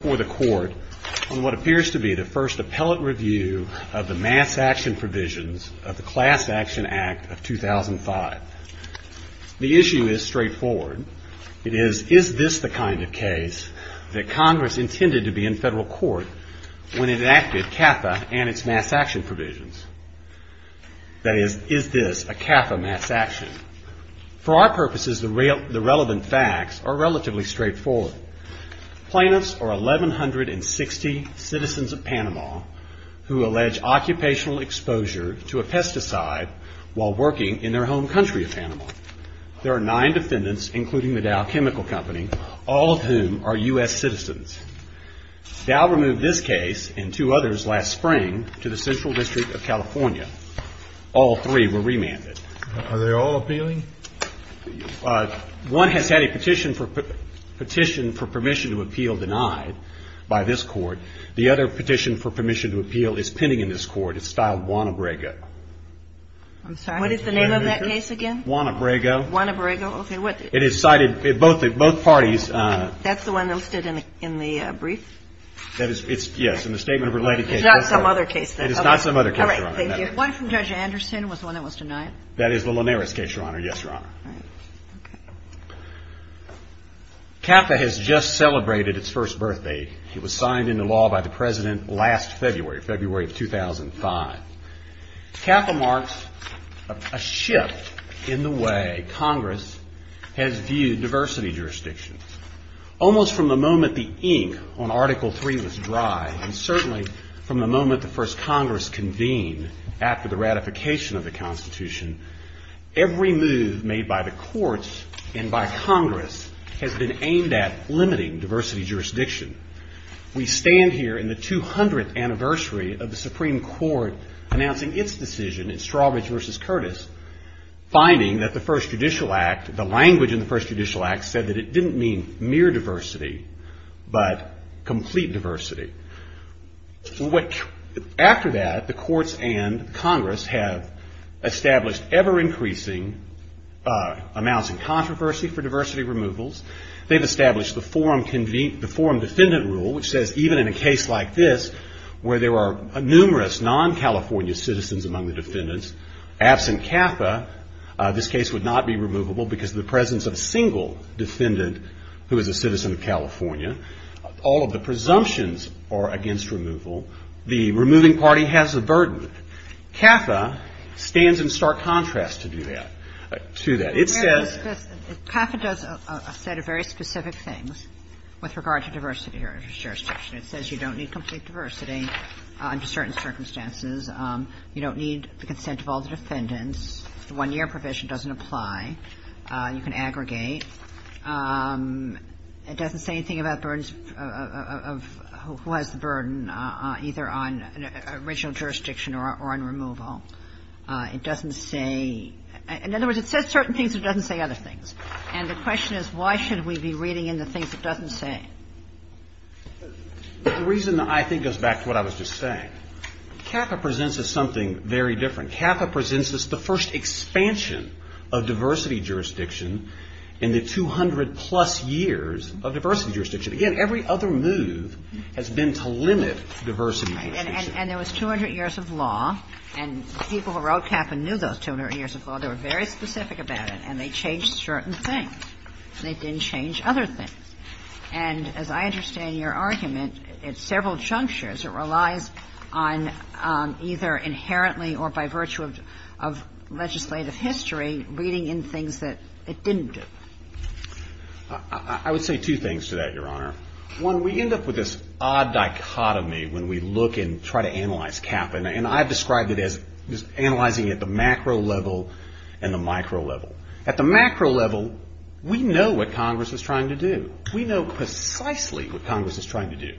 FOR THE COURT ON WHAT APPEARS TO BE THE FIRST APPELLATE REVIEW OF THE MASS ACTION PROVISIONS OF THE CLASS ACTION ACT OF 2005. The issue is straightforward. It is, is this the kind of case that Congress intended to be in federal court when it enacted CAFA and its mass action provisions? That is, is this a CAFA mass action? For our purposes, the relevant facts are relatively straightforward. Plaintiffs are 1,160 citizens of Panama who allege occupational exposure to a pesticide while working in their home country of Panama. There are nine defendants, including the Dow Chemical Company, all of whom are U.S. citizens. Dow removed this case and two others last spring to the Central District of California. All three were remanded. Are they all appealing? One has had a petition for permission to appeal denied by this Court. The other petition for permission to appeal is pending in this Court. It's styled Juan Abrego. I'm sorry. What is the name of that case again? Juan Abrego. Juan Abrego. Okay. It is cited in both parties. That's the one that was listed in the brief? That is, yes, in the statement of related cases. It's not some other case, then? It is not some other case, Your Honor. All right. Thank you. One from Judge Anderson was the one that was denied. That is the Linares case, Your Honor. Yes, Your Honor. CAFA has just celebrated its first birthday. It was signed into law by the President last February, February of 2005. CAFA marks a shift in the way Congress has viewed diversity jurisdiction. Almost from the moment the ink on Article III was dry, and certainly from the moment the First Congress convened after the ratification of the Constitution, every move made by the courts and by Congress has been aimed at limiting diversity jurisdiction. We stand here in the 200th anniversary of the Supreme Court announcing its decision in Strawbridge v. Curtis, finding that the language in the First Judicial Act said that it didn't mean mere diversity, but complete diversity. After that, the courts and Congress have established ever-increasing amounts of controversy for diversity removals. They've established the Forum Defendant Rule, which says even in a case like this, where there are numerous non-California citizens among the defendants, absent CAFA, this case would not be removable because of the presence of a single defendant who is a citizen of California. All of the presumptions are against removal. The removing party has the burden. CAFA stands in stark contrast to do that. To that. It says — But, Your Honor, CAFA does a set of very specific things with regard to diversity jurisdiction. It says you don't need complete diversity under certain circumstances. You don't need the consent of all the defendants. The one-year provision doesn't apply. You can aggregate. It doesn't say anything about burdens of — who has the burden, either on an original jurisdiction or on removal. It doesn't say — in other words, it says certain things. It doesn't say other things. And the question is, why should we be reading in the things it doesn't say? The reason, I think, goes back to what I was just saying. CAFA presents us something very different. CAFA presents us the first expansion of diversity jurisdiction in the 200-plus years of diversity jurisdiction. Again, every other move has been to limit diversity jurisdiction. And there was 200 years of law, and the people who wrote CAFA knew those 200 years of law. They were very specific about it, and they changed certain things. They didn't change other things. And as I understand your argument, it's several junctures. It relies on either inherently or by virtue of legislative history, reading in things that it didn't do. I would say two things to that, Your Honor. One, we end up with this odd dichotomy when we look and try to analyze CAFA. And I've described it as analyzing at the macro level and the micro level. At the macro level, we know what Congress is trying to do. We know precisely what Congress is trying to do.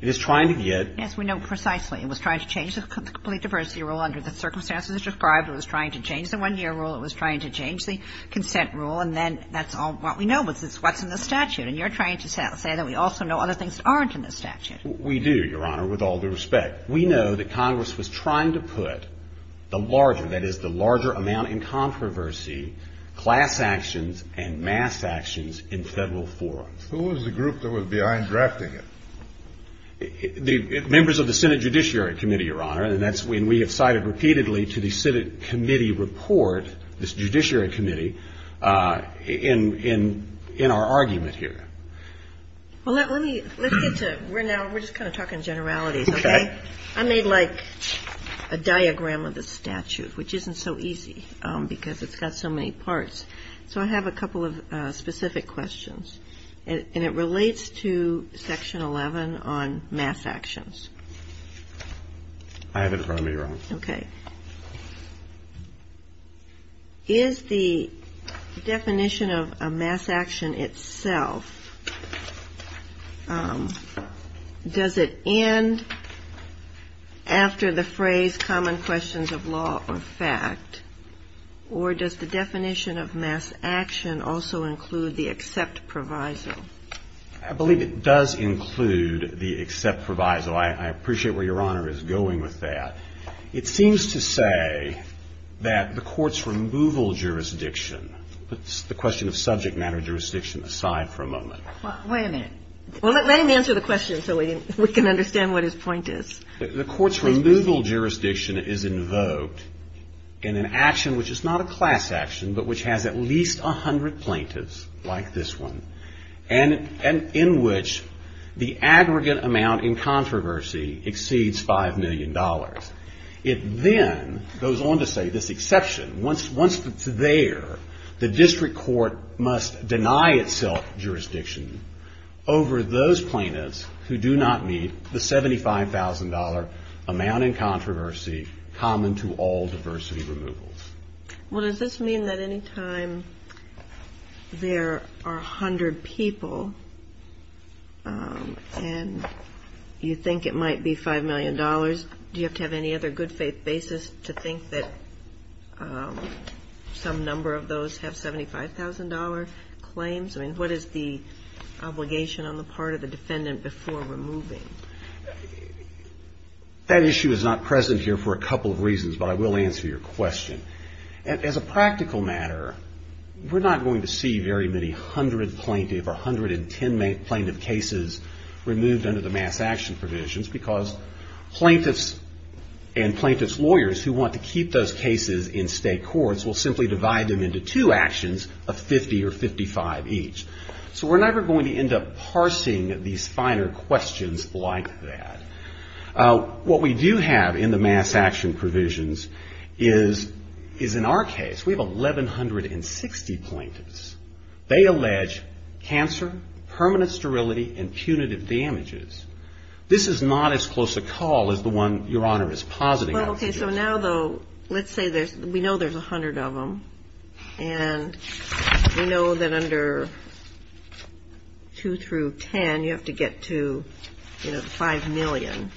It is trying to get — Yes, we know precisely. It was trying to change the complete diversity rule under the circumstances described. It was trying to change the one-year rule. It was trying to change the consent rule. And then that's all that we know, is what's in the statute. And you're trying to say that we also know other things that aren't in the statute. We do, Your Honor, with all due respect. We know that Congress was trying to put the larger — that is, the larger amount in controversy — class actions and mass actions in Federal forums. Who was the group that was behind drafting it? Members of the Senate Judiciary Committee, Your Honor. And that's when we have cited repeatedly to the Senate committee report, this Judiciary Committee, in our argument here. Well, let me — let's get to — we're now — we're just kind of talking generalities, okay? Okay. I made, like, a diagram of the statute, which isn't so easy because it's got so many parts. So I have a couple of specific questions. And it relates to Section 11 on mass actions. I have it in front of me, Your Honor. Okay. Is the definition of a mass action itself — does it end after the phrase common questions of law or fact, or does the definition of mass action also include the except proviso? I believe it does include the except proviso. I appreciate where Your Honor is going with that. It seems to say that the court's removal jurisdiction — put the question of subject matter jurisdiction aside for a moment. Wait a minute. Well, let him answer the question so we can understand what his point is. The court's removal jurisdiction is invoked in an action which is not a class action, but which has at least 100 plaintiffs, like this one, and in which the aggregate amount in controversy exceeds $5 million. It then goes on to say this exception. Once it's there, the district court must deny itself jurisdiction over those plaintiffs who do not meet the $75,000 amount in controversy common to all diversity removals. Well, does this mean that any time there are 100 people and you think it might be $5 million, do you have to have any other good faith basis to think that some number of those have $75,000 claims? I mean, what is the obligation on the part of the defendant before removing? That issue is not present here for a couple of reasons, but I will answer your question. As a practical matter, we're not going to see very many 100 plaintiff or 110 plaintiff cases removed under the mass action provisions because plaintiffs and plaintiffs' lawyers who want to keep those cases in state courts will simply divide them into two actions of 50 or 55 each. So we're never going to end up parsing these finer questions like that. What we do have in the mass action provisions is in our case, we have 1160 plaintiffs. They allege cancer, permanent sterility, and punitive damages. This is not as close a call as the one Your Honor is positing. Well, okay. So now though, let's say there's, we know there's a hundred of them and we know that under two through 10, you have to get to, you know, the 5 million.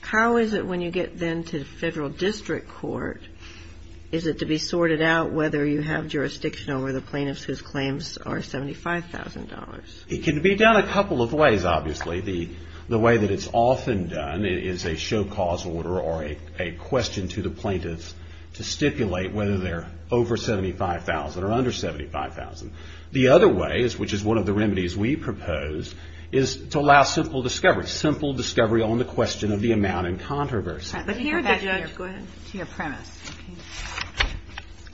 How is it when you get then to federal district court, is it to be sorted out whether you have jurisdiction over the plaintiffs whose claims are $75,000? It can be done a couple of ways, obviously. The way that it's often done is a show cause order or a question to the plaintiffs, which is $75,000. The other way is, which is one of the remedies we propose, is to allow simple discovery, simple discovery on the question of the amount in controversy. But here the judge, go ahead. To your premise.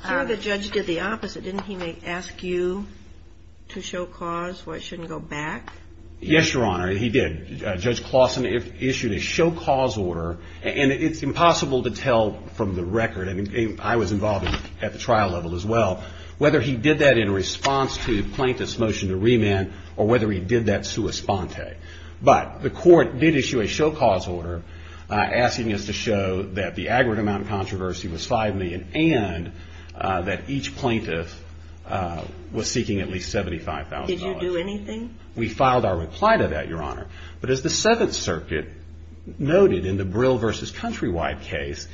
Here the judge did the opposite. Didn't he ask you to show cause why it shouldn't go back? Yes, Your Honor, he did. Judge Claussen issued a show cause order and it's impossible to tell from the record. I mean, I was involved at the trial level as well. Whether he did that in response to the plaintiff's motion to remand or whether he did that sua sponte. But the court did issue a show cause order asking us to show that the aggregate amount in controversy was 5 million and that each plaintiff was seeking at least $75,000. Did you do anything? We filed our reply to that, Your Honor. But as the Seventh Circuit noted in the Brill v. Countrywide case,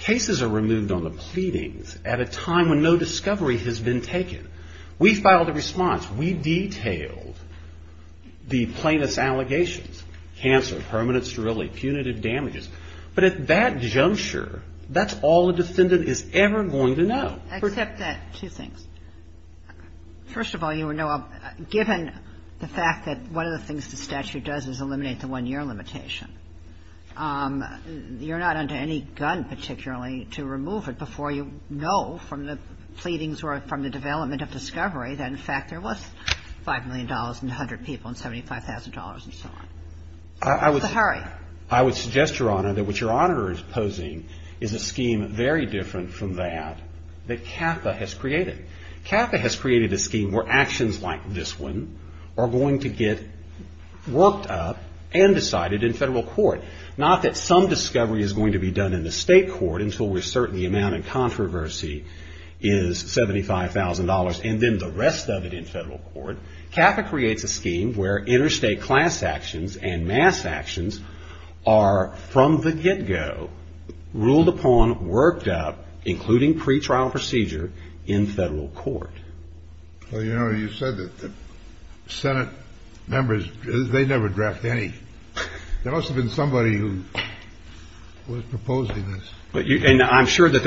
cases are removed on the pleadings at a time when no discovery has been taken. We filed a response. We detailed the plaintiff's allegations, cancer, permanent sterility, punitive damages. But at that juncture, that's all a defendant is ever going to know. Except that two things. First of all, you know, given the fact that one of the things the statute does is eliminate the one-year limitation, you're not under any gun particularly to remove it before you know from the pleadings or from the development of discovery that, in fact, there was $5 million and 100 people and $75,000 and so on. I would suggest, Your Honor, that what your auditor is posing is a scheme very different from that that CAFA has created. CAFA has created a scheme where actions like this one are going to get worked up and decided in Federal court, not that some discovery is going to be done in the state court until we're certain the amount of controversy is $75,000 and then the rest of it in Federal court. CAFA creates a scheme where interstate class actions and mass actions are from the get-go, ruled upon, worked up, including pretrial procedure in Federal court. Well, you know, you said that the Senate members, they never draft any. There must have been somebody who was proposing this. But I'm sure that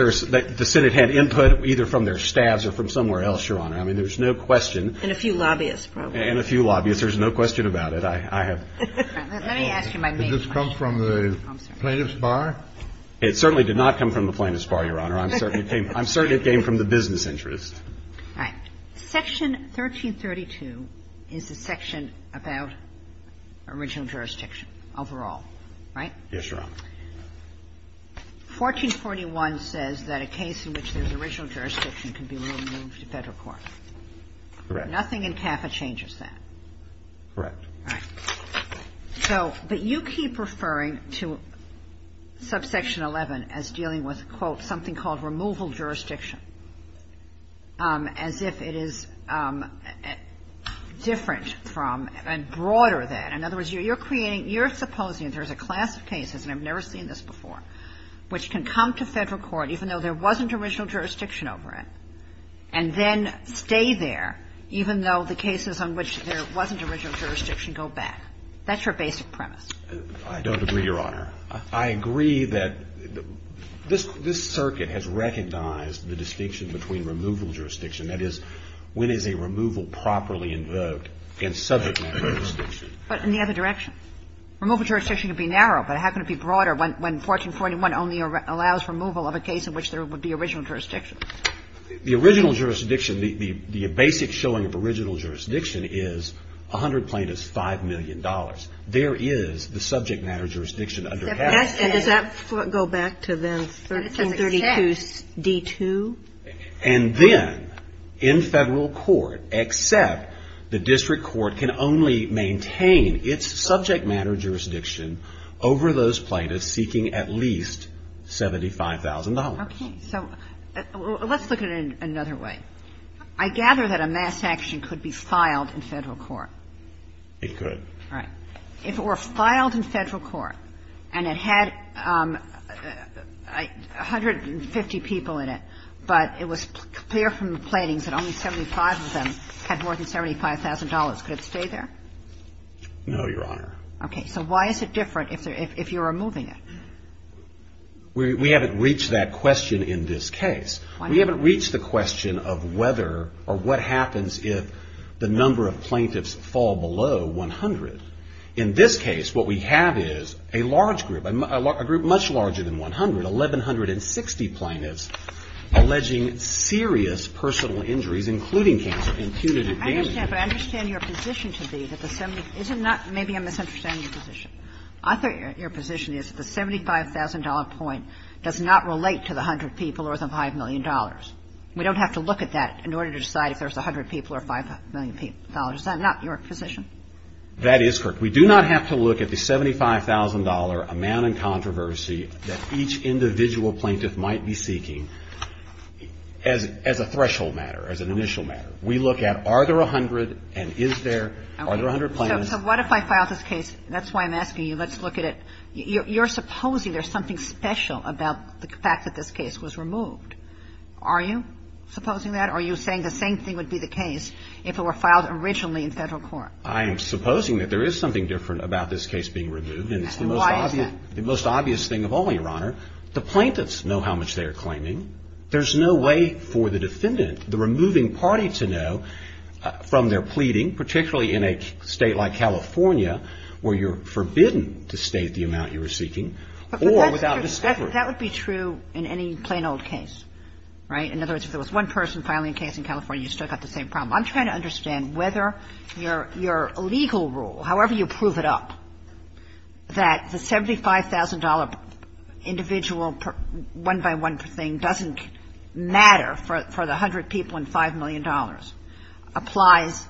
the Senate had input either from their staffs or from somewhere else, Your Honor. I mean, there's no question. And a few lobbyists, probably. And a few lobbyists. There's no question about it. I have. Let me ask you my main question. Did this come from the plaintiff's bar? It certainly did not come from the plaintiff's bar, Your Honor. I'm certain it came from the business interest. All right. Section 1332 is the section about original jurisdiction overall, right? Yes, Your Honor. 1441 says that a case in which there's original jurisdiction can be removed to Federal court. Correct. Nothing in CAFA changes that. Correct. All right. So, but you keep referring to subsection 11 as dealing with, quote, something called removal jurisdiction. As if it is different from and broader than. In other words, you're creating, you're supposing there's a class of cases, and I've never seen this before, which can come to Federal court even though there wasn't original jurisdiction over it, and then stay there even though the cases on which there wasn't original jurisdiction go back. That's your basic premise. I don't agree, Your Honor. I agree that this, this circuit has recognized the distinction between removal jurisdiction. That is, when is a removal properly invoked in subject matter jurisdiction. But in the other direction? Removal jurisdiction can be narrow, but how can it be broader when, when 1441 only allows removal of a case in which there would be original jurisdiction? The original jurisdiction, the, the, the basic showing of original jurisdiction is a hundred plaintiffs, $5 million. There is the subject matter jurisdiction. Does that go back to then 1332 D2? And then in Federal court, except the district court can only maintain its subject matter jurisdiction over those plaintiffs seeking at least $75,000. Okay. So let's look at it in another way. I gather that a mass action could be filed in Federal court. It could. Right. If it were filed in Federal court and it had 150 people in it, but it was clear from the platings that only 75 of them had more than $75,000, could it stay there? No, Your Honor. Okay. So why is it different if there, if, if you're removing it? We, we haven't reached that question in this case. We haven't reached the question of whether or what happens if the number of plaintiffs fall below 100. In this case, what we have is a large group, a group much larger than 100, 1,160 plaintiffs alleging serious personal injuries, including cancer, and punitive damages. I understand, but I understand your position to be that the 70, is it not, maybe I'm misunderstanding your position. I thought your position is that the $75,000 point does not relate to the hundred people or the $5 million. We don't have to look at that in order to decide if there's a hundred people or $5 million. Is that not your position? That is correct. We do not have to look at the $75,000 amount in controversy that each individual plaintiff might be seeking as, as a threshold matter, as an initial matter. We look at, are there a hundred and is there, are there a hundred plaintiffs? So what if I file this case? That's why I'm asking you, let's look at it. You're, you're supposing there's something special about the fact that this case was removed. Are you supposing that? Or are you saying the same thing would be the case if it were filed originally in federal court? I am supposing that there is something different about this case being removed. And it's the most obvious, the most obvious thing of all, Your Honor, the plaintiffs know how much they are claiming. There's no way for the defendant, the removing party to know from their pleading, particularly in a state like California, where you're forbidden to state the amount you were seeking or without discovery. That would be true in any plain old case, right? In other words, if there was one person filing a case in California, you still got the same problem. I'm trying to understand whether your, your legal rule, however you prove it up, that the $75,000 individual one by one thing doesn't matter for, for the hundred people and $5 million, applies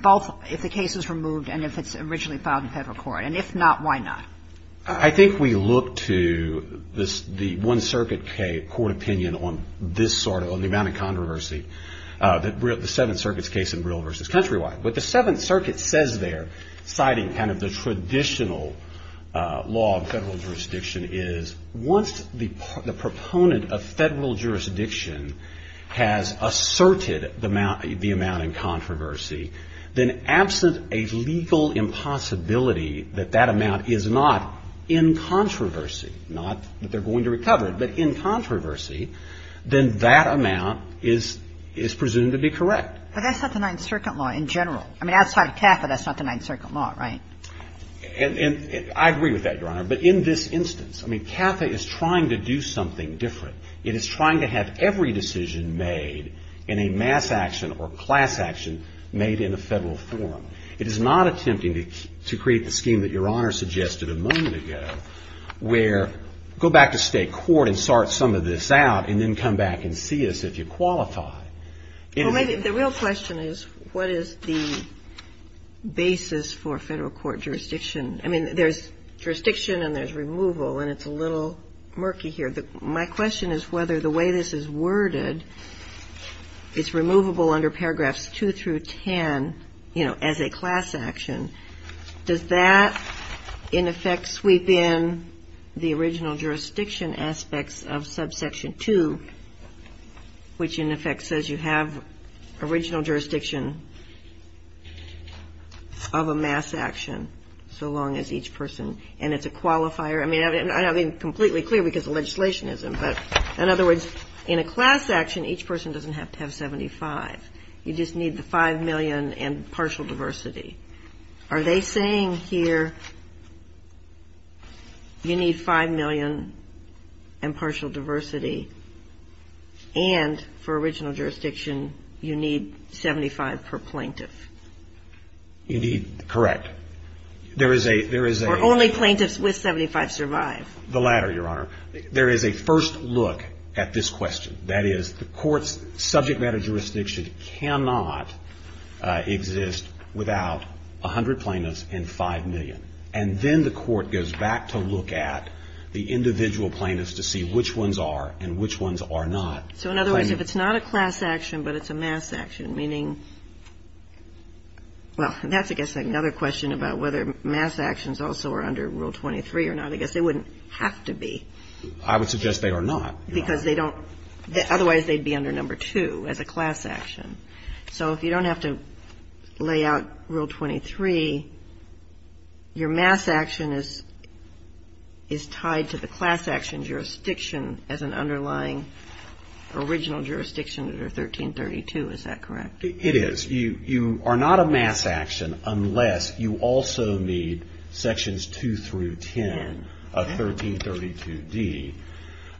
both if the case is removed and if it's originally filed in federal court, and if not, why not? I think we look to this, the one circuit court opinion on this sort of, on the amount of controversy that the Seventh Circuit's case in Brill versus Countrywide. What the Seventh Circuit says there, citing kind of the traditional law of federal jurisdiction is once the proponent of federal jurisdiction has asserted the amount, the amount in controversy, then absent a legal impossibility that that amount is not in controversy, not that they're going to recover it, but in controversy, then that amount is, is presumed to be correct. But that's not the Ninth Circuit law in general. I mean, outside of CAFA, that's not the Ninth Circuit law, right? And, and I agree with that, Your Honor, but in this instance, I mean, CAFA is trying to do something different. It is trying to have every decision made in a mass action or class action made in a federal forum. It is not attempting to, to create the scheme that Your Honor suggested a moment ago, where go back to state court and sort some of this out and then come back and see us if you qualify. Well, maybe the real question is what is the basis for federal court jurisdiction? I mean, there's jurisdiction and there's removal, and it's a little murky here. The, my question is whether the way this is worded, it's removable under paragraphs 2 through 10, you know, as a class action. Does that in effect sweep in the original jurisdiction aspects of subsection 2, which in effect says you have original jurisdiction of a mass action, so long as each person, and it's a qualifier. I mean, I'm not being completely clear because of legislationism, but in other words, in a class action, each person doesn't have to have 75. You just need the 5 million and partial diversity. Are they saying here you need 5 million and partial diversity and for original jurisdiction, you need 75 per plaintiff? Indeed, correct. There is a, there is a, or only plaintiffs with 75 survive. The latter, Your Honor. There is a first look at this question. That is the court's subject matter jurisdiction cannot exist without a hundred plaintiffs and 5 million, and then the court goes back to look at the individual plaintiffs to see which ones are and which ones are not. So in other words, if it's not a class action, but it's a mass action, meaning, well, that's, I guess, another question about whether mass actions also are under Rule 23 or not. I guess they wouldn't have to be. I would suggest they are not. Because they don't, otherwise they'd be under number two as a class action. So if you don't have to lay out Rule 23, your mass action is, is tied to the class action jurisdiction as an underlying original jurisdiction under 1332. Is that correct? It is. You, you are not a mass action unless you also need sections 2 through 10 of 1332 D.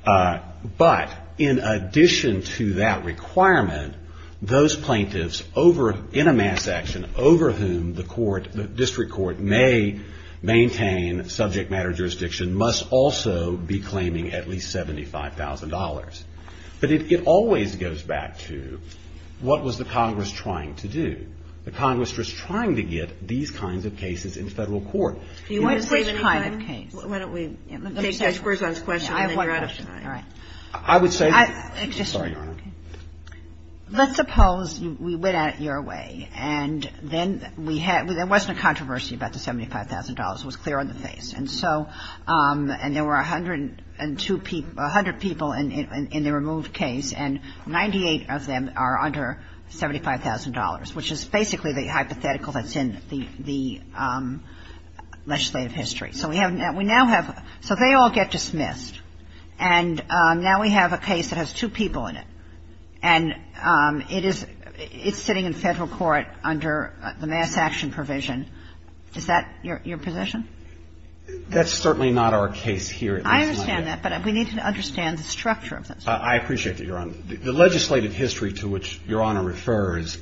But in addition to that requirement, those plaintiffs over, in a mass action over whom the court, the district court may maintain subject matter jurisdiction must also be claiming at least $75,000. But it, it always goes back to what was the Congress trying to do? The Congress was trying to get these kinds of cases in federal court. Do you want to say the kind of case? Well, why don't we take Judge Gorsuch's question and then you're out of time. I have one question. All right. I would say, sorry, Your Honor. Let's suppose we went at it your way and then we had, there wasn't a controversy about the $75,000, it was clear on the face. And so, and there were 102 people, 100 people in, in the removed case and 98 of them are under $75,000, which is basically the hypothetical that's in the, the legislative history. So we have now, we now have, so they all get dismissed. And now we have a case that has two people in it. And it is, it's sitting in federal court under the mass action provision. Is that your, your position? That's certainly not our case here. I understand that. But we need to understand the structure of this. I appreciate that, Your Honor. The legislative history to which Your Honor refers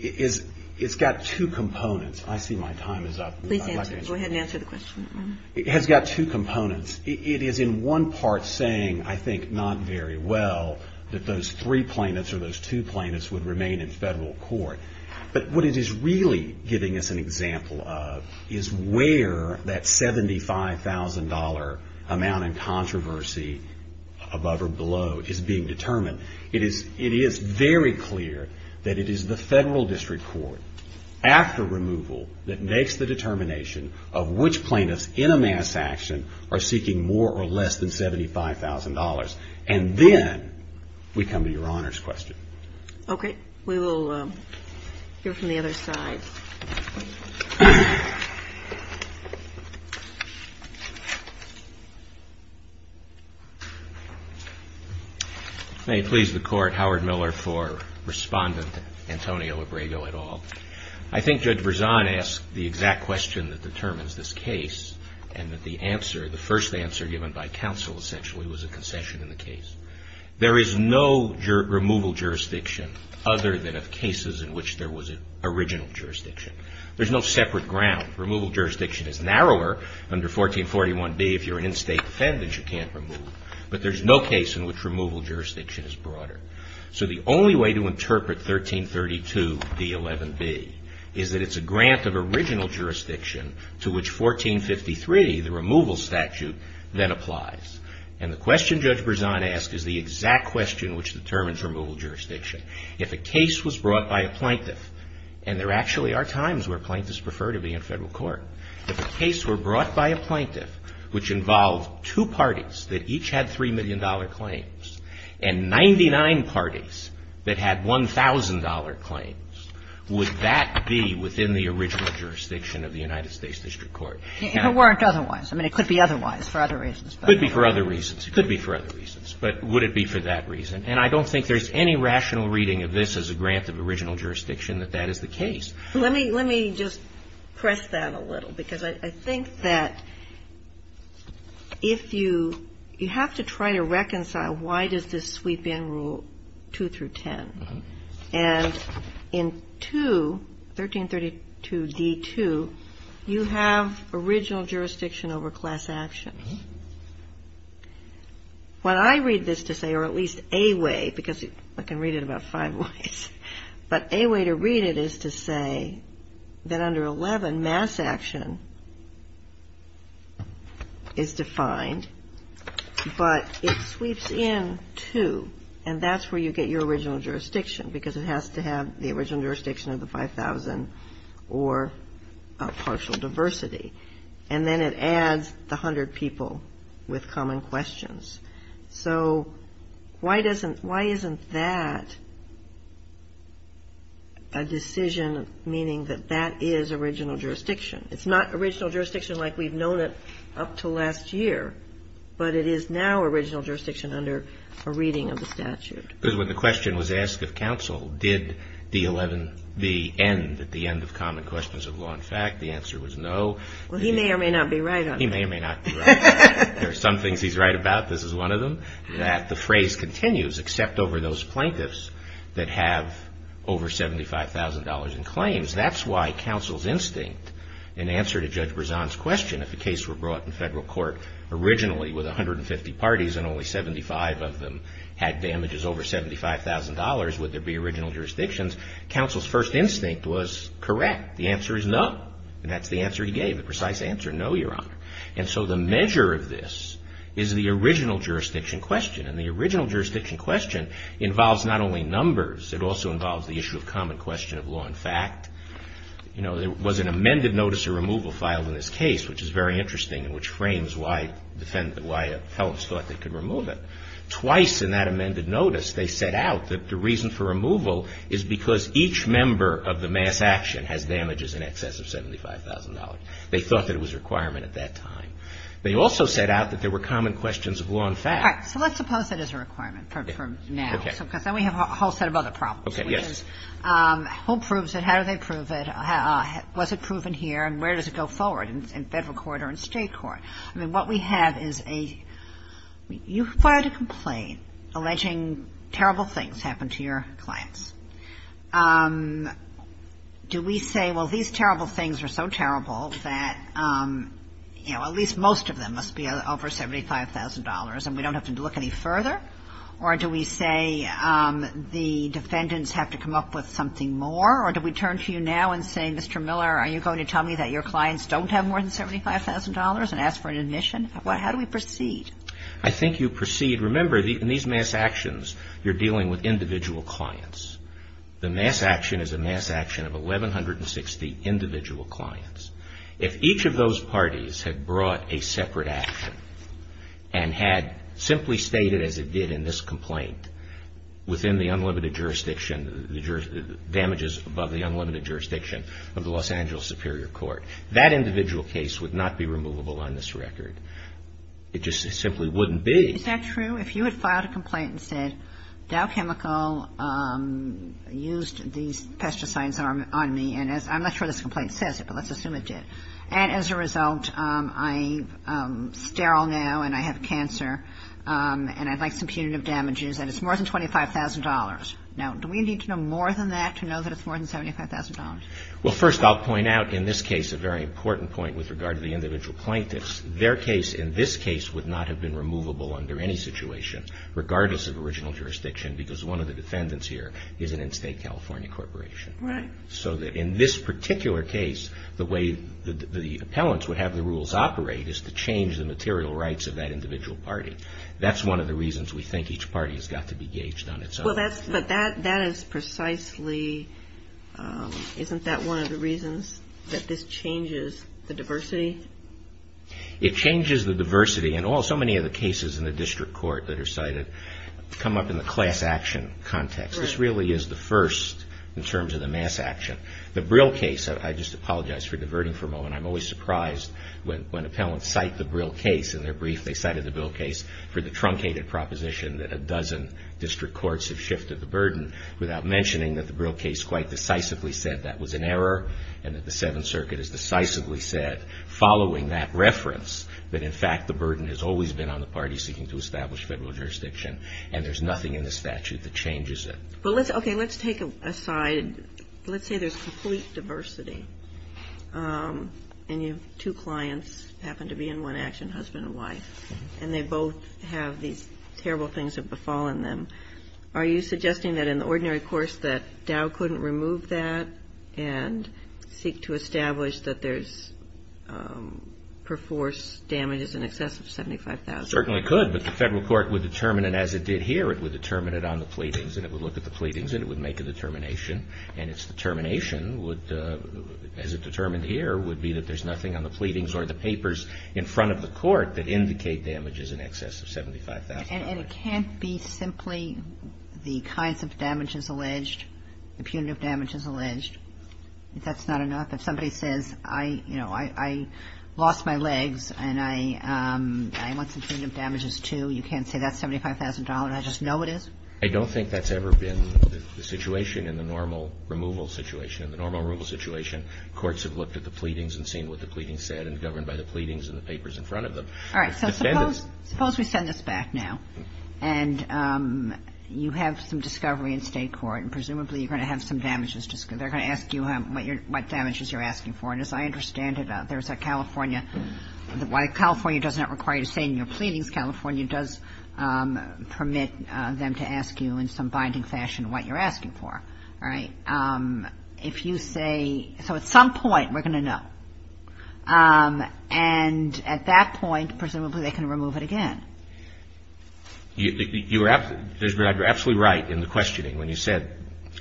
is, is, it's got two components. I see my time is up. Please answer. Go ahead and answer the question. It has got two components. It is in one part saying, I think not very well, that those three plaintiffs or those two plaintiffs would remain in federal court. But what it is really giving us an example of is where that $75,000 amount in controversy above or below is being determined. It is, it is very clear that it is the federal district court after removal that makes the determination of which plaintiffs in a mass action are seeking more or less than $75,000. And then we come to Your Honor's question. Okay. We will hear from the other side. May it please the Court, Howard Miller for Respondent Antonio Labrigo et al. I think Judge Verzon asked the exact question that determines this case and that the answer, the first answer given by counsel essentially was a concession in the case. There is no removal jurisdiction other than of cases in which there was an original jurisdiction. There is no separate ground. Removal jurisdiction is narrower under 1441B. If you are an in-state defendant, you can't remove. But there is no case in which removal jurisdiction is broader. So the only way to interpret 1332D11B is that it is a grant of original jurisdiction to which 1453, the removal statute, then applies. And the question Judge Verzon asked is the exact question which determines removal jurisdiction. If a case was brought by a plaintiff, and there actually are times where plaintiffs prefer to be in federal court. If a case were brought by a plaintiff which involved two parties that each had $3 million claims, and 99 parties that had $1,000 claims, would that be within the original jurisdiction of the United States District Court? And if it weren't otherwise? I mean, it could be otherwise for other reasons. It could be for other reasons. It could be for other reasons. But would it be for that reason? And I don't think there's any rational reading of this as a grant of original jurisdiction that that is the case. Let me just press that a little. Because I think that if you, you have to try to reconcile why does this sweep in Rule 2 through 10. And in 2, 1332D2, you have original jurisdiction over class actions. What I read this to say, or at least a way, because I can read it about five ways, but a way to read it is to say that under 11, mass action is defined, but it sweeps in 2. And that's where you get your original jurisdiction. Because it has to have the original jurisdiction of the 5,000 or partial diversity. And then it adds the 100 people with common questions. So why doesn't, why isn't that a decision meaning that that is original jurisdiction? It's not original jurisdiction like we've known it up to last year. But it is now original jurisdiction under a reading of the statute. Because when the question was asked of counsel, did the 11, the end, the end of common questions of law and fact, the answer was no. Well, he may or may not be right on that. He may or may not be right. There are some things he's right about. This is one of them. That the phrase continues, except over those plaintiffs that have over $75,000 in claims. That's why counsel's instinct, in answer to Judge Berzon's question, if the case were brought in federal court originally with 150 parties and only 75 of them had damages over $75,000, would there be original jurisdictions? Counsel's first instinct was correct. The answer is no. And that's the answer he gave, the precise answer, no, Your Honor. And so the measure of this is the original jurisdiction question. And the original jurisdiction question involves not only numbers. It also involves the issue of common question of law and fact. You know, there was an amended notice of removal filed in this case, which is very interesting and which frames why defendants, why felons thought they could remove it. Twice in that amended notice, they set out that the reason for removal is because each member of the mass action has damages in excess of $75,000. They thought that it was a requirement at that time. They also set out that there were common questions of law and fact. All right. So let's suppose that is a requirement for now. Okay. Because then we have a whole set of other problems. Okay. Yes. Who proves it? How do they prove it? Was it proven here? And where does it go forward, in federal court or in state court? I mean, what we have is a you filed a complaint alleging terrible things happened to your clients. Do we say, well, these terrible things are so terrible that, you know, at least most of them must be over $75,000 and we don't have to look any further? Or do we say the defendants have to come up with something more? Or do we turn to you now and say, Mr. Miller, are you going to tell me that your clients don't have more than $75,000 and ask for an admission? How do we proceed? I think you proceed. Remember, in these mass actions, you're dealing with individual clients. The mass action is a mass action of 1,160 individual clients. If each of those parties had brought a separate action and had simply stated, as it did in this complaint, within the unlimited jurisdiction, damages above the unlimited jurisdiction of the Los Angeles Superior Court, that individual case would not be removable on this record. It just simply wouldn't be. Is that true? If you had filed a complaint and said Dow Chemical used these pesticides on me, and I'm not sure this complaint says it, but let's assume it did, and as a result I'm sterile now and I have cancer and I'd like some punitive damages and it's more than $25,000. Now, do we need to know more than that to know that it's more than $75,000? Well, first, I'll point out in this case a very important point with regard to the individual plaintiffs. Their case in this case would not have been removable under any situation, regardless of original jurisdiction, because one of the defendants here is an in-state California corporation. Right. So that in this particular case, the way the appellants would have the rules operate is to change the material rights of that individual party. That's one of the reasons we think each party has got to be gauged on its own. But that is precisely, isn't that one of the reasons that this changes the diversity? It changes the diversity. And so many of the cases in the district court that are cited come up in the class action context. This really is the first in terms of the mass action. The Brill case, I just apologize for diverting for a moment, I'm always surprised when appellants cite the Brill case in their brief, they cited the Brill case for the truncated proposition that a dozen district courts have shifted the burden, without mentioning that the Brill case quite decisively said that was an error and that the Seventh Circuit has decisively said, following that reference, that in fact the burden has always been on the parties seeking to establish federal jurisdiction. And there's nothing in the statute that changes it. Okay, let's take a side. Let's say there's complete diversity. And you have two clients who happen to be in one action, husband and wife, and they both have these terrible things that have befallen them. Are you suggesting that in the ordinary course that Dow couldn't remove that and seek to establish that there's perforce damages in excess of $75,000? It certainly could, but the federal court would determine it as it did here. It would determine it on the pleadings and it would look at the pleadings and it would make a determination. And its determination would, as it determined here, would be that there's nothing on the pleadings or the papers in front of the court that indicate damages in excess of $75,000. And it can't be simply the kinds of damages alleged, the punitive damages alleged. That's not enough. If somebody says, you know, I lost my legs and I want some punitive damages too, you can't say that's $75,000. I just know it is? I don't think that's ever been the situation in the normal removal situation. In the normal removal situation, courts have looked at the pleadings and seen what the pleadings said and governed by the pleadings and the papers in front of them. All right. So suppose we send this back now and you have some discovery in State court and presumably you're going to have some damages. They're going to ask you what damages you're asking for. And as I understand it, there's a California. While California does not require you to say in your pleadings, California does permit them to ask you in some binding fashion what you're asking for. All right. If you say, so at some point we're going to know. And at that point, presumably they can remove it again. You're absolutely right in the questioning when you said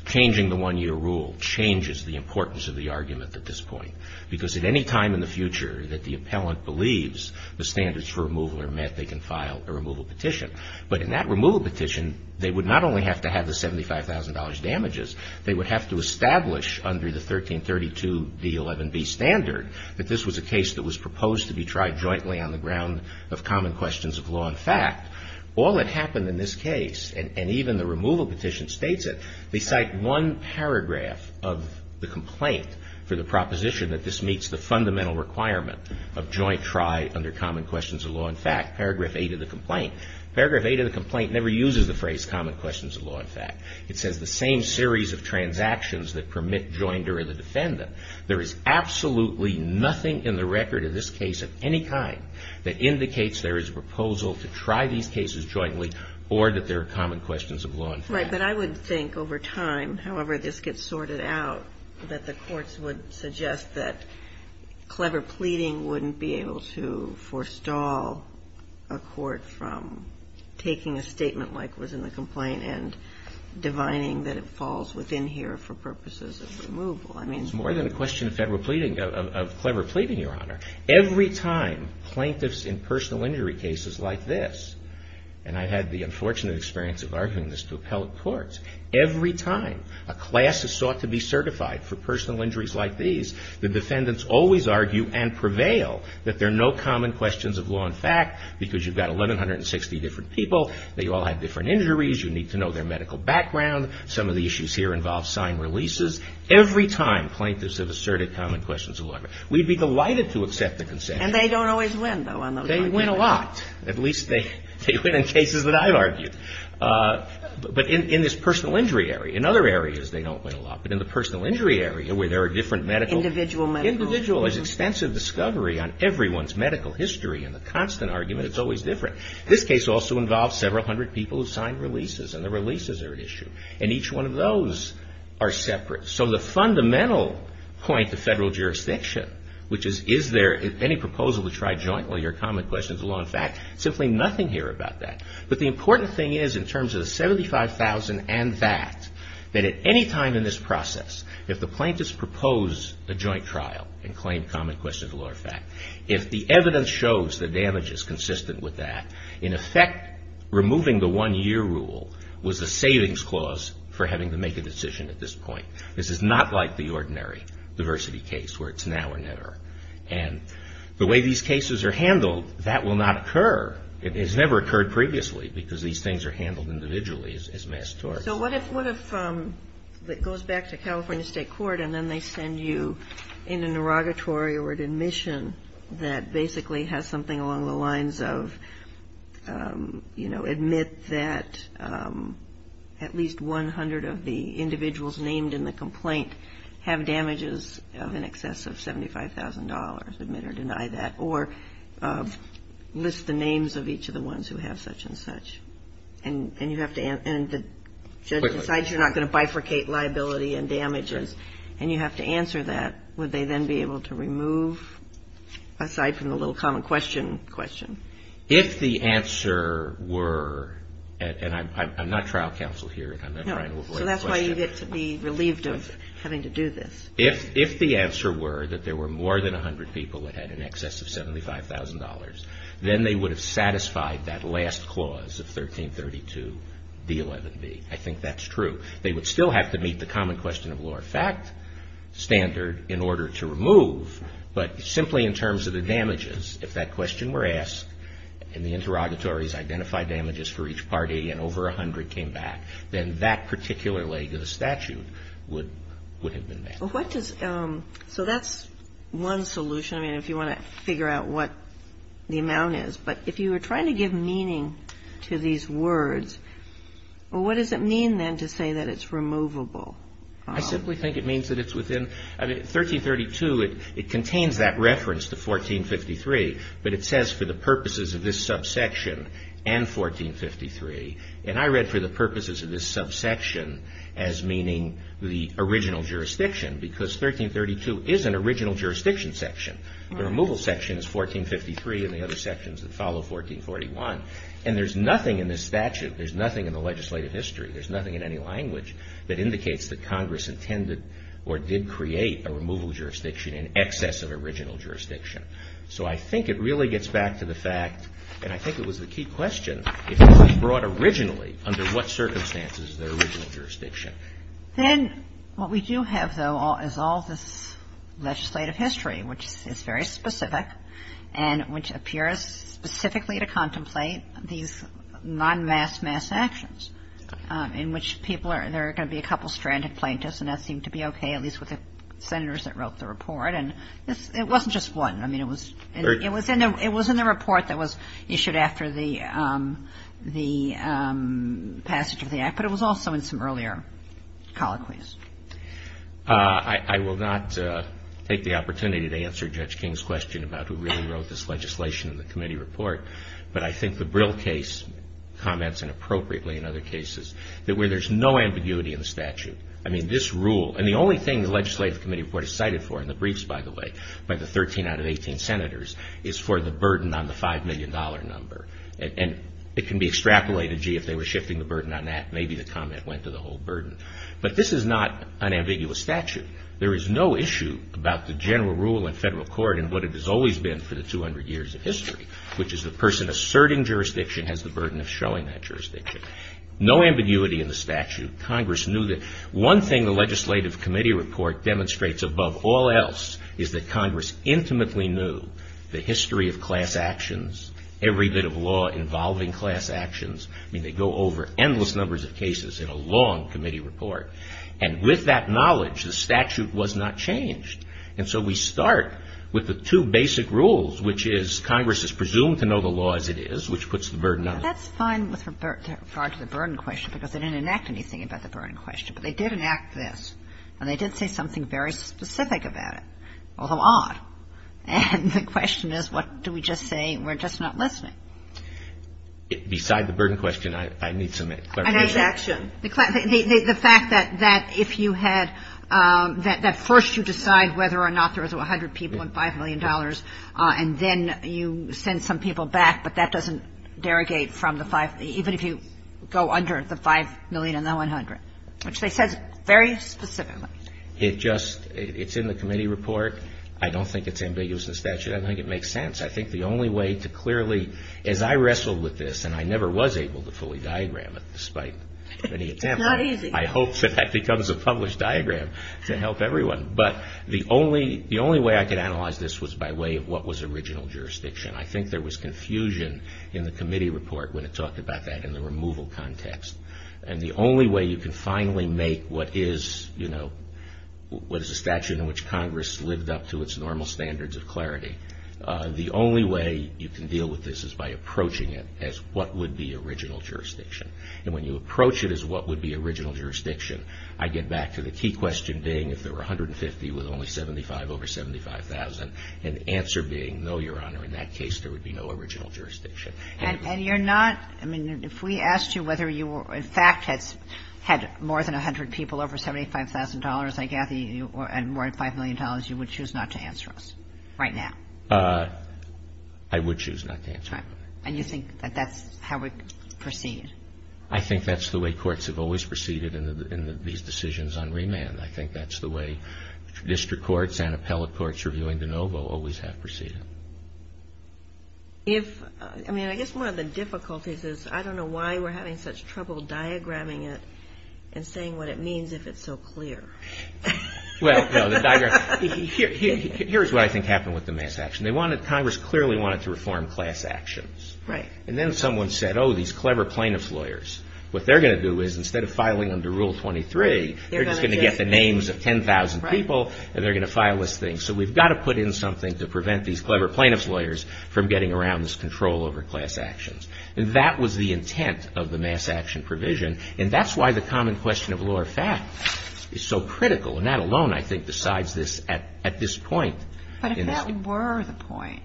changing the one-year rule changes the importance of the argument at this point. Because at any time in the future that the appellant believes the standards for removal are met, they can file a removal petition. But in that removal petition, they would not only have to have the $75,000 damages, they would have to establish under the 1332D11B standard that this was a case that was proposed to be tried jointly on the ground of common questions of law and fact. All that happened in this case, and even the removal petition states it, they cite one paragraph of the complaint for the proposition that this meets the fundamental requirement of joint try under common questions of law and fact, paragraph 8 of the complaint. Paragraph 8 of the complaint never uses the phrase common questions of law and fact. It says the same series of transactions that permit joinder or the defendant. There is absolutely nothing in the record of this case of any kind that indicates there is a proposal to try these cases jointly or that there are common questions of law and fact. Right. But I would think over time, however this gets sorted out, that the courts would suggest that clever pleading wouldn't be able to forestall a court from taking a statement like was in the complaint and divining that it falls within here for purposes of removal. It's more than a question of federal pleading, of clever pleading, Your Honor. Every time plaintiffs in personal injury cases like this, and I had the unfortunate experience of arguing this to appellate courts, every time a class is sought to be a case, the defendants always argue and prevail that there are no common questions of law and fact because you've got 1,160 different people. They all have different injuries. You need to know their medical background. Some of the issues here involve signed releases. Every time plaintiffs have asserted common questions of law and fact. We'd be delighted to accept the consent. And they don't always win, though, on those kinds of cases. They win a lot. At least they win in cases that I've argued. But in this personal injury area, in other areas they don't win a lot. But in the personal injury area where there are different medical. Individual medical. Individual. There's extensive discovery on everyone's medical history. And the constant argument is always different. This case also involves several hundred people who signed releases. And the releases are at issue. And each one of those are separate. So the fundamental point to federal jurisdiction, which is, is there any proposal to try jointly your common questions of law and fact, simply nothing here about that. But the important thing is, in terms of the 75,000 and that, that at any time in this process, if the plaintiffs propose a joint trial and claim common questions of law and fact, if the evidence shows that damage is consistent with that, in effect removing the one-year rule was a savings clause for having to make a decision at this point. This is not like the ordinary diversity case where it's now or never. And the way these cases are handled, that will not occur. It has never occurred previously because these things are handled individually as mass tort. So what if it goes back to California State Court and then they send you in an inauguratory or an admission that basically has something along the lines of, you know, admit that at least 100 of the individuals named in the complaint have damages of in excess of $75,000, admit or deny that, or list the names of each of the ones who have such and such. And you have to, and the judge decides you're not going to bifurcate liability and damages. And you have to answer that. Would they then be able to remove, aside from the little common question question? If the answer were, and I'm not trial counsel here, and I'm not trying to avoid the question. So that's why you get to be relieved of having to do this. If the answer were that there were more than 100 people that had in excess of $75,000, then they would have satisfied that last clause of 1332D11B. I think that's true. They would still have to meet the common question of law or fact standard in order to remove. But simply in terms of the damages, if that question were asked and the interrogatories identified damages for each party and over 100 came back, then that particular leg of the statute would have been met. Well, what does, so that's one solution. I mean, if you want to figure out what the amount is. But if you were trying to give meaning to these words, well, what does it mean then to say that it's removable? I simply think it means that it's within, I mean, 1332, it contains that reference to 1453. But it says for the purposes of this subsection and 1453. And I read for the purposes of this subsection as meaning the original jurisdiction because 1332 is an original jurisdiction section. The removal section is 1453 and the other sections that follow, 1441. And there's nothing in this statute, there's nothing in the legislative history, there's nothing in any language that indicates that Congress intended or did create a removal jurisdiction in excess of original jurisdiction. So I think it really gets back to the fact, and I think it was the key question, if it was brought originally, under what circumstances is the original jurisdiction? Then what we do have, though, is all this legislative history, which is very specific and which appears specifically to contemplate these non-mass, mass actions, in which people are, there are going to be a couple of stranded plaintiffs, and that seemed to be okay, at least with the Senators that wrote the report. And it wasn't just one. I mean, it was in the report that was issued after the passage of the Act, but it was also in some earlier colloquies. I will not take the opportunity to answer Judge King's question about who really wrote this legislation in the committee report, but I think the Brill case comments, and appropriately in other cases, that where there's no ambiguity in the statute, I mean, this rule, and the only thing the legislative committee report is cited for, and the briefs, by the way, by the 13 out of 18 Senators, is for the burden on the $5 million number. And it can be extrapolated, gee, if they were shifting the burden on that, maybe the comment went to the whole burden. But this is not an ambiguous statute. There is no issue about the general rule in federal court and what it has always been for the 200 years of history, which is the person asserting jurisdiction has the burden of showing that jurisdiction. No ambiguity in the statute. Congress knew that one thing the legislative committee report demonstrates above all else is that Congress intimately knew the history of class actions, every bit of law involving class actions. I mean, they go over endless numbers of cases in a long committee report. And with that knowledge, the statute was not changed. And so we start with the two basic rules, which is Congress is presumed to know the law as it is, which puts the burden on it. That's fine with regard to the burden question, because they didn't enact anything about the burden question. But they did enact this. And they did say something very specific about it, although odd. And the question is, what do we just say? We're just not listening. Roberts. Beside the burden question, I need some clarification. Kagan. I need action. The fact that if you had that first you decide whether or not there was 100 people and $5 million, and then you send some people back, but that doesn't derogate from the 5, even if you go under the 5 million and the 100, which they said very specifically. It just, it's in the committee report. I don't think it's ambiguous in the statute. I don't think it makes sense. I think the only way to clearly, as I wrestled with this, and I never was able to fully diagram it despite many attempts. It's not easy. I hope that that becomes a published diagram to help everyone. But the only way I could analyze this was by way of what was original jurisdiction. I think there was confusion in the committee report when it talked about that in the removal context. And the only way you can finally make what is, you know, what is a statute in which Congress lived up to its normal standards of clarity, the only way you can deal with this is by approaching it as what would be original jurisdiction. And when you approach it as what would be original jurisdiction, I get back to the key question being if there were 150 with only 75 over 75,000, and the answer being, no, Your Honor, in that case, there would be no original jurisdiction. And you're not, I mean, if we asked you whether you were, in fact, had more than 100 people over $75,000, I gather, and more than $5 million, you would choose not to answer us right now. I would choose not to answer. And you think that that's how we proceed? I think that's the way courts have always proceeded in these decisions on remand. I think that's the way district courts, and appellate courts reviewing de novo always have proceeded. If, I mean, I guess one of the difficulties is I don't know why we're having such trouble diagramming it and saying what it means if it's so clear. Well, no, the diagram, here's what I think happened with the mass action. They wanted, Congress clearly wanted to reform class actions. Right. And then someone said, oh, these clever plaintiff's lawyers, what they're going to do is instead of filing under Rule 23, they're just going to get the names of 10,000 people and they're going to file this thing. So we've got to put in something to prevent these clever plaintiff's lawyers from getting around this control over class actions. And that was the intent of the mass action provision. And that's why the common question of law or fact is so critical. And that alone, I think, decides this at this point. But if that were the point,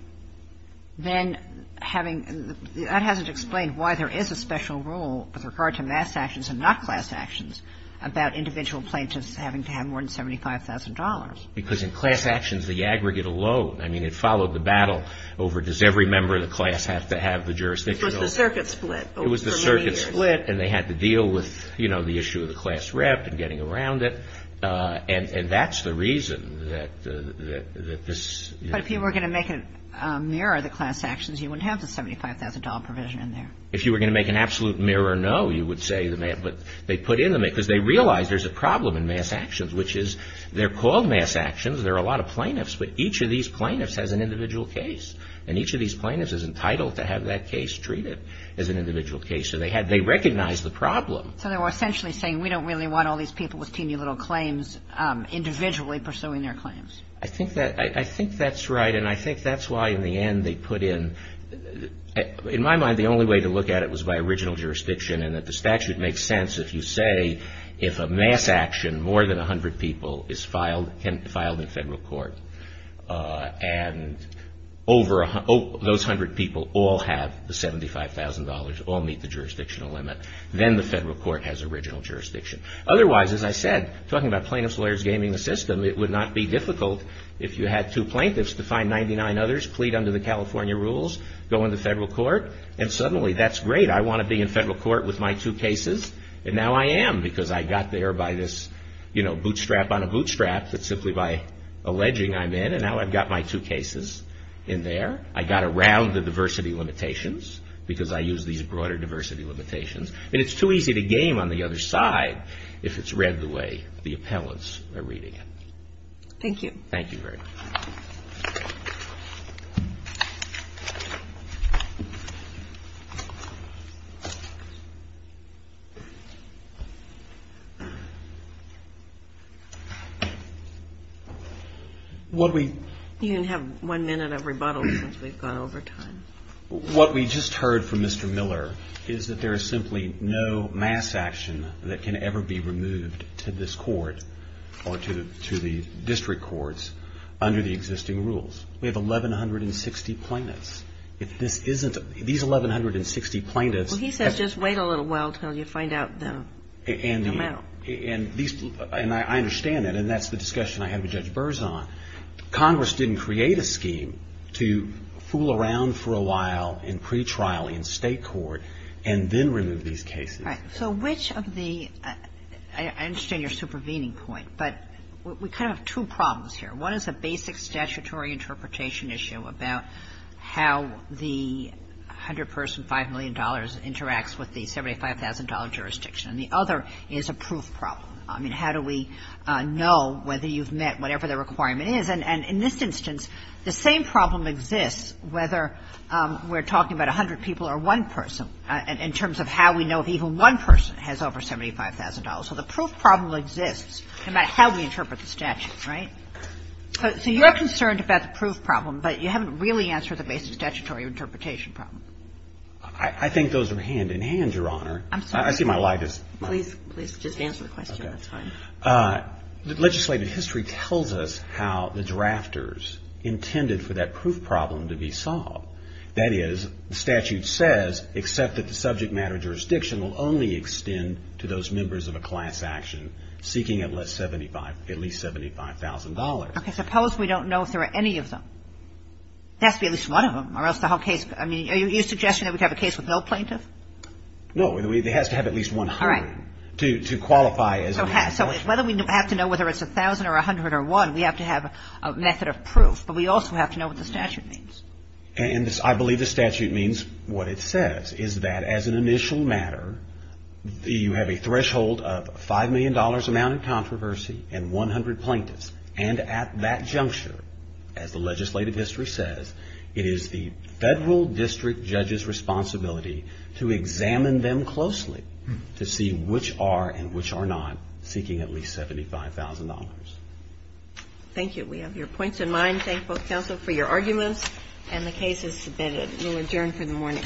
then having the – that hasn't explained why there is a special rule with regard to mass actions and not class actions about individual plaintiffs having to have more than $75,000. Because in class actions, the aggregate alone, I mean, it followed the battle over does every member of the class have to have the jurisdictional It was the circuit split over many years. It was the circuit split and they had to deal with, you know, the issue of the class rep and getting around it. And that's the reason that this – But if you were going to make it mirror the class actions, you wouldn't have the $75,000 provision in there. If you were going to make an absolute mirror no, you would say the – but they put in the – because they realized there's a problem in mass actions, which is they're called mass actions. There are a lot of plaintiffs. But each of these plaintiffs has an individual case. And each of these plaintiffs is entitled to have that case treated as an individual case. So they had – they recognized the problem. So they were essentially saying we don't really want all these people with teeny little claims individually pursuing their claims. I think that's right. And I think that's why in the end they put in – In my mind, the only way to look at it was by original jurisdiction and that the statute makes sense if you say if a mass action, more than 100 people is filed in federal court and over – those 100 people all have the $75,000, all meet the jurisdictional limit, then the federal court has original jurisdiction. Otherwise, as I said, talking about plaintiff's lawyers gaming the system, it would not be difficult if you had two plaintiffs to find 99 others, plead under the California rules, go into federal court. And suddenly that's great. I want to be in federal court with my two cases. And now I am because I got there by this, you know, bootstrap on a bootstrap that simply by alleging I'm in. And now I've got my two cases in there. I got around the diversity limitations because I used these broader diversity limitations. And it's too easy to game on the other side if it's read the way the appellants are reading it. Thank you. Thank you very much. You can have one minute of rebuttal since we've gone over time. What we just heard from Mr. Miller is that there is simply no mass action that can ever be removed to this court or to the district courts under the existing rules. We have 1,160 plaintiffs. If this isn't, these 1,160 plaintiffs. Well, he says just wait a little while until you find out the amount. And I understand that. And that's the discussion I had with Judge Burzon. Congress didn't create a scheme to fool around for a while in pretrial in state court and then remove these cases. Right. So which of the – I understand your supervening point, but we kind of have two problems here. One is a basic statutory interpretation issue about how the 100-person, $5 million interacts with the $75,000 jurisdiction. And the other is a proof problem. I mean, how do we know whether you've met whatever the requirement is? And in this instance, the same problem exists whether we're talking about 100 people or one person in terms of how we know if even one person has over $75,000. So the proof problem exists no matter how we interpret the statute. Right? So you're concerned about the proof problem, but you haven't really answered the basic statutory interpretation problem. I think those are hand-in-hand, Your Honor. I'm sorry. I see my light is – Please, please, just answer the question. That's fine. Legislative history tells us how the drafters intended for that proof problem to be solved. That is, the statute says except that the subject matter jurisdiction will only extend to those members of a class action seeking at least $75,000. Okay. Suppose we don't know if there are any of them. There has to be at least one of them, or else the whole case – I mean, are you suggesting that we have a case with no plaintiff? No. It has to have at least 100 to qualify as a plaintiff. So whether we have to know whether it's 1,000 or 100 or 1, we have to have a method of proof, but we also have to know what the statute means. And I believe the statute means – what it says is that as an initial matter, you have a threshold of $5 million amount in controversy and 100 plaintiffs. And at that juncture, as the legislative history says, it is the federal district judge's responsibility to examine them closely to see which are and which are not seeking at least $75,000. Thank you. We have your points in mind. I thank both counsel for your arguments, and the case is submitted. We will adjourn for the morning.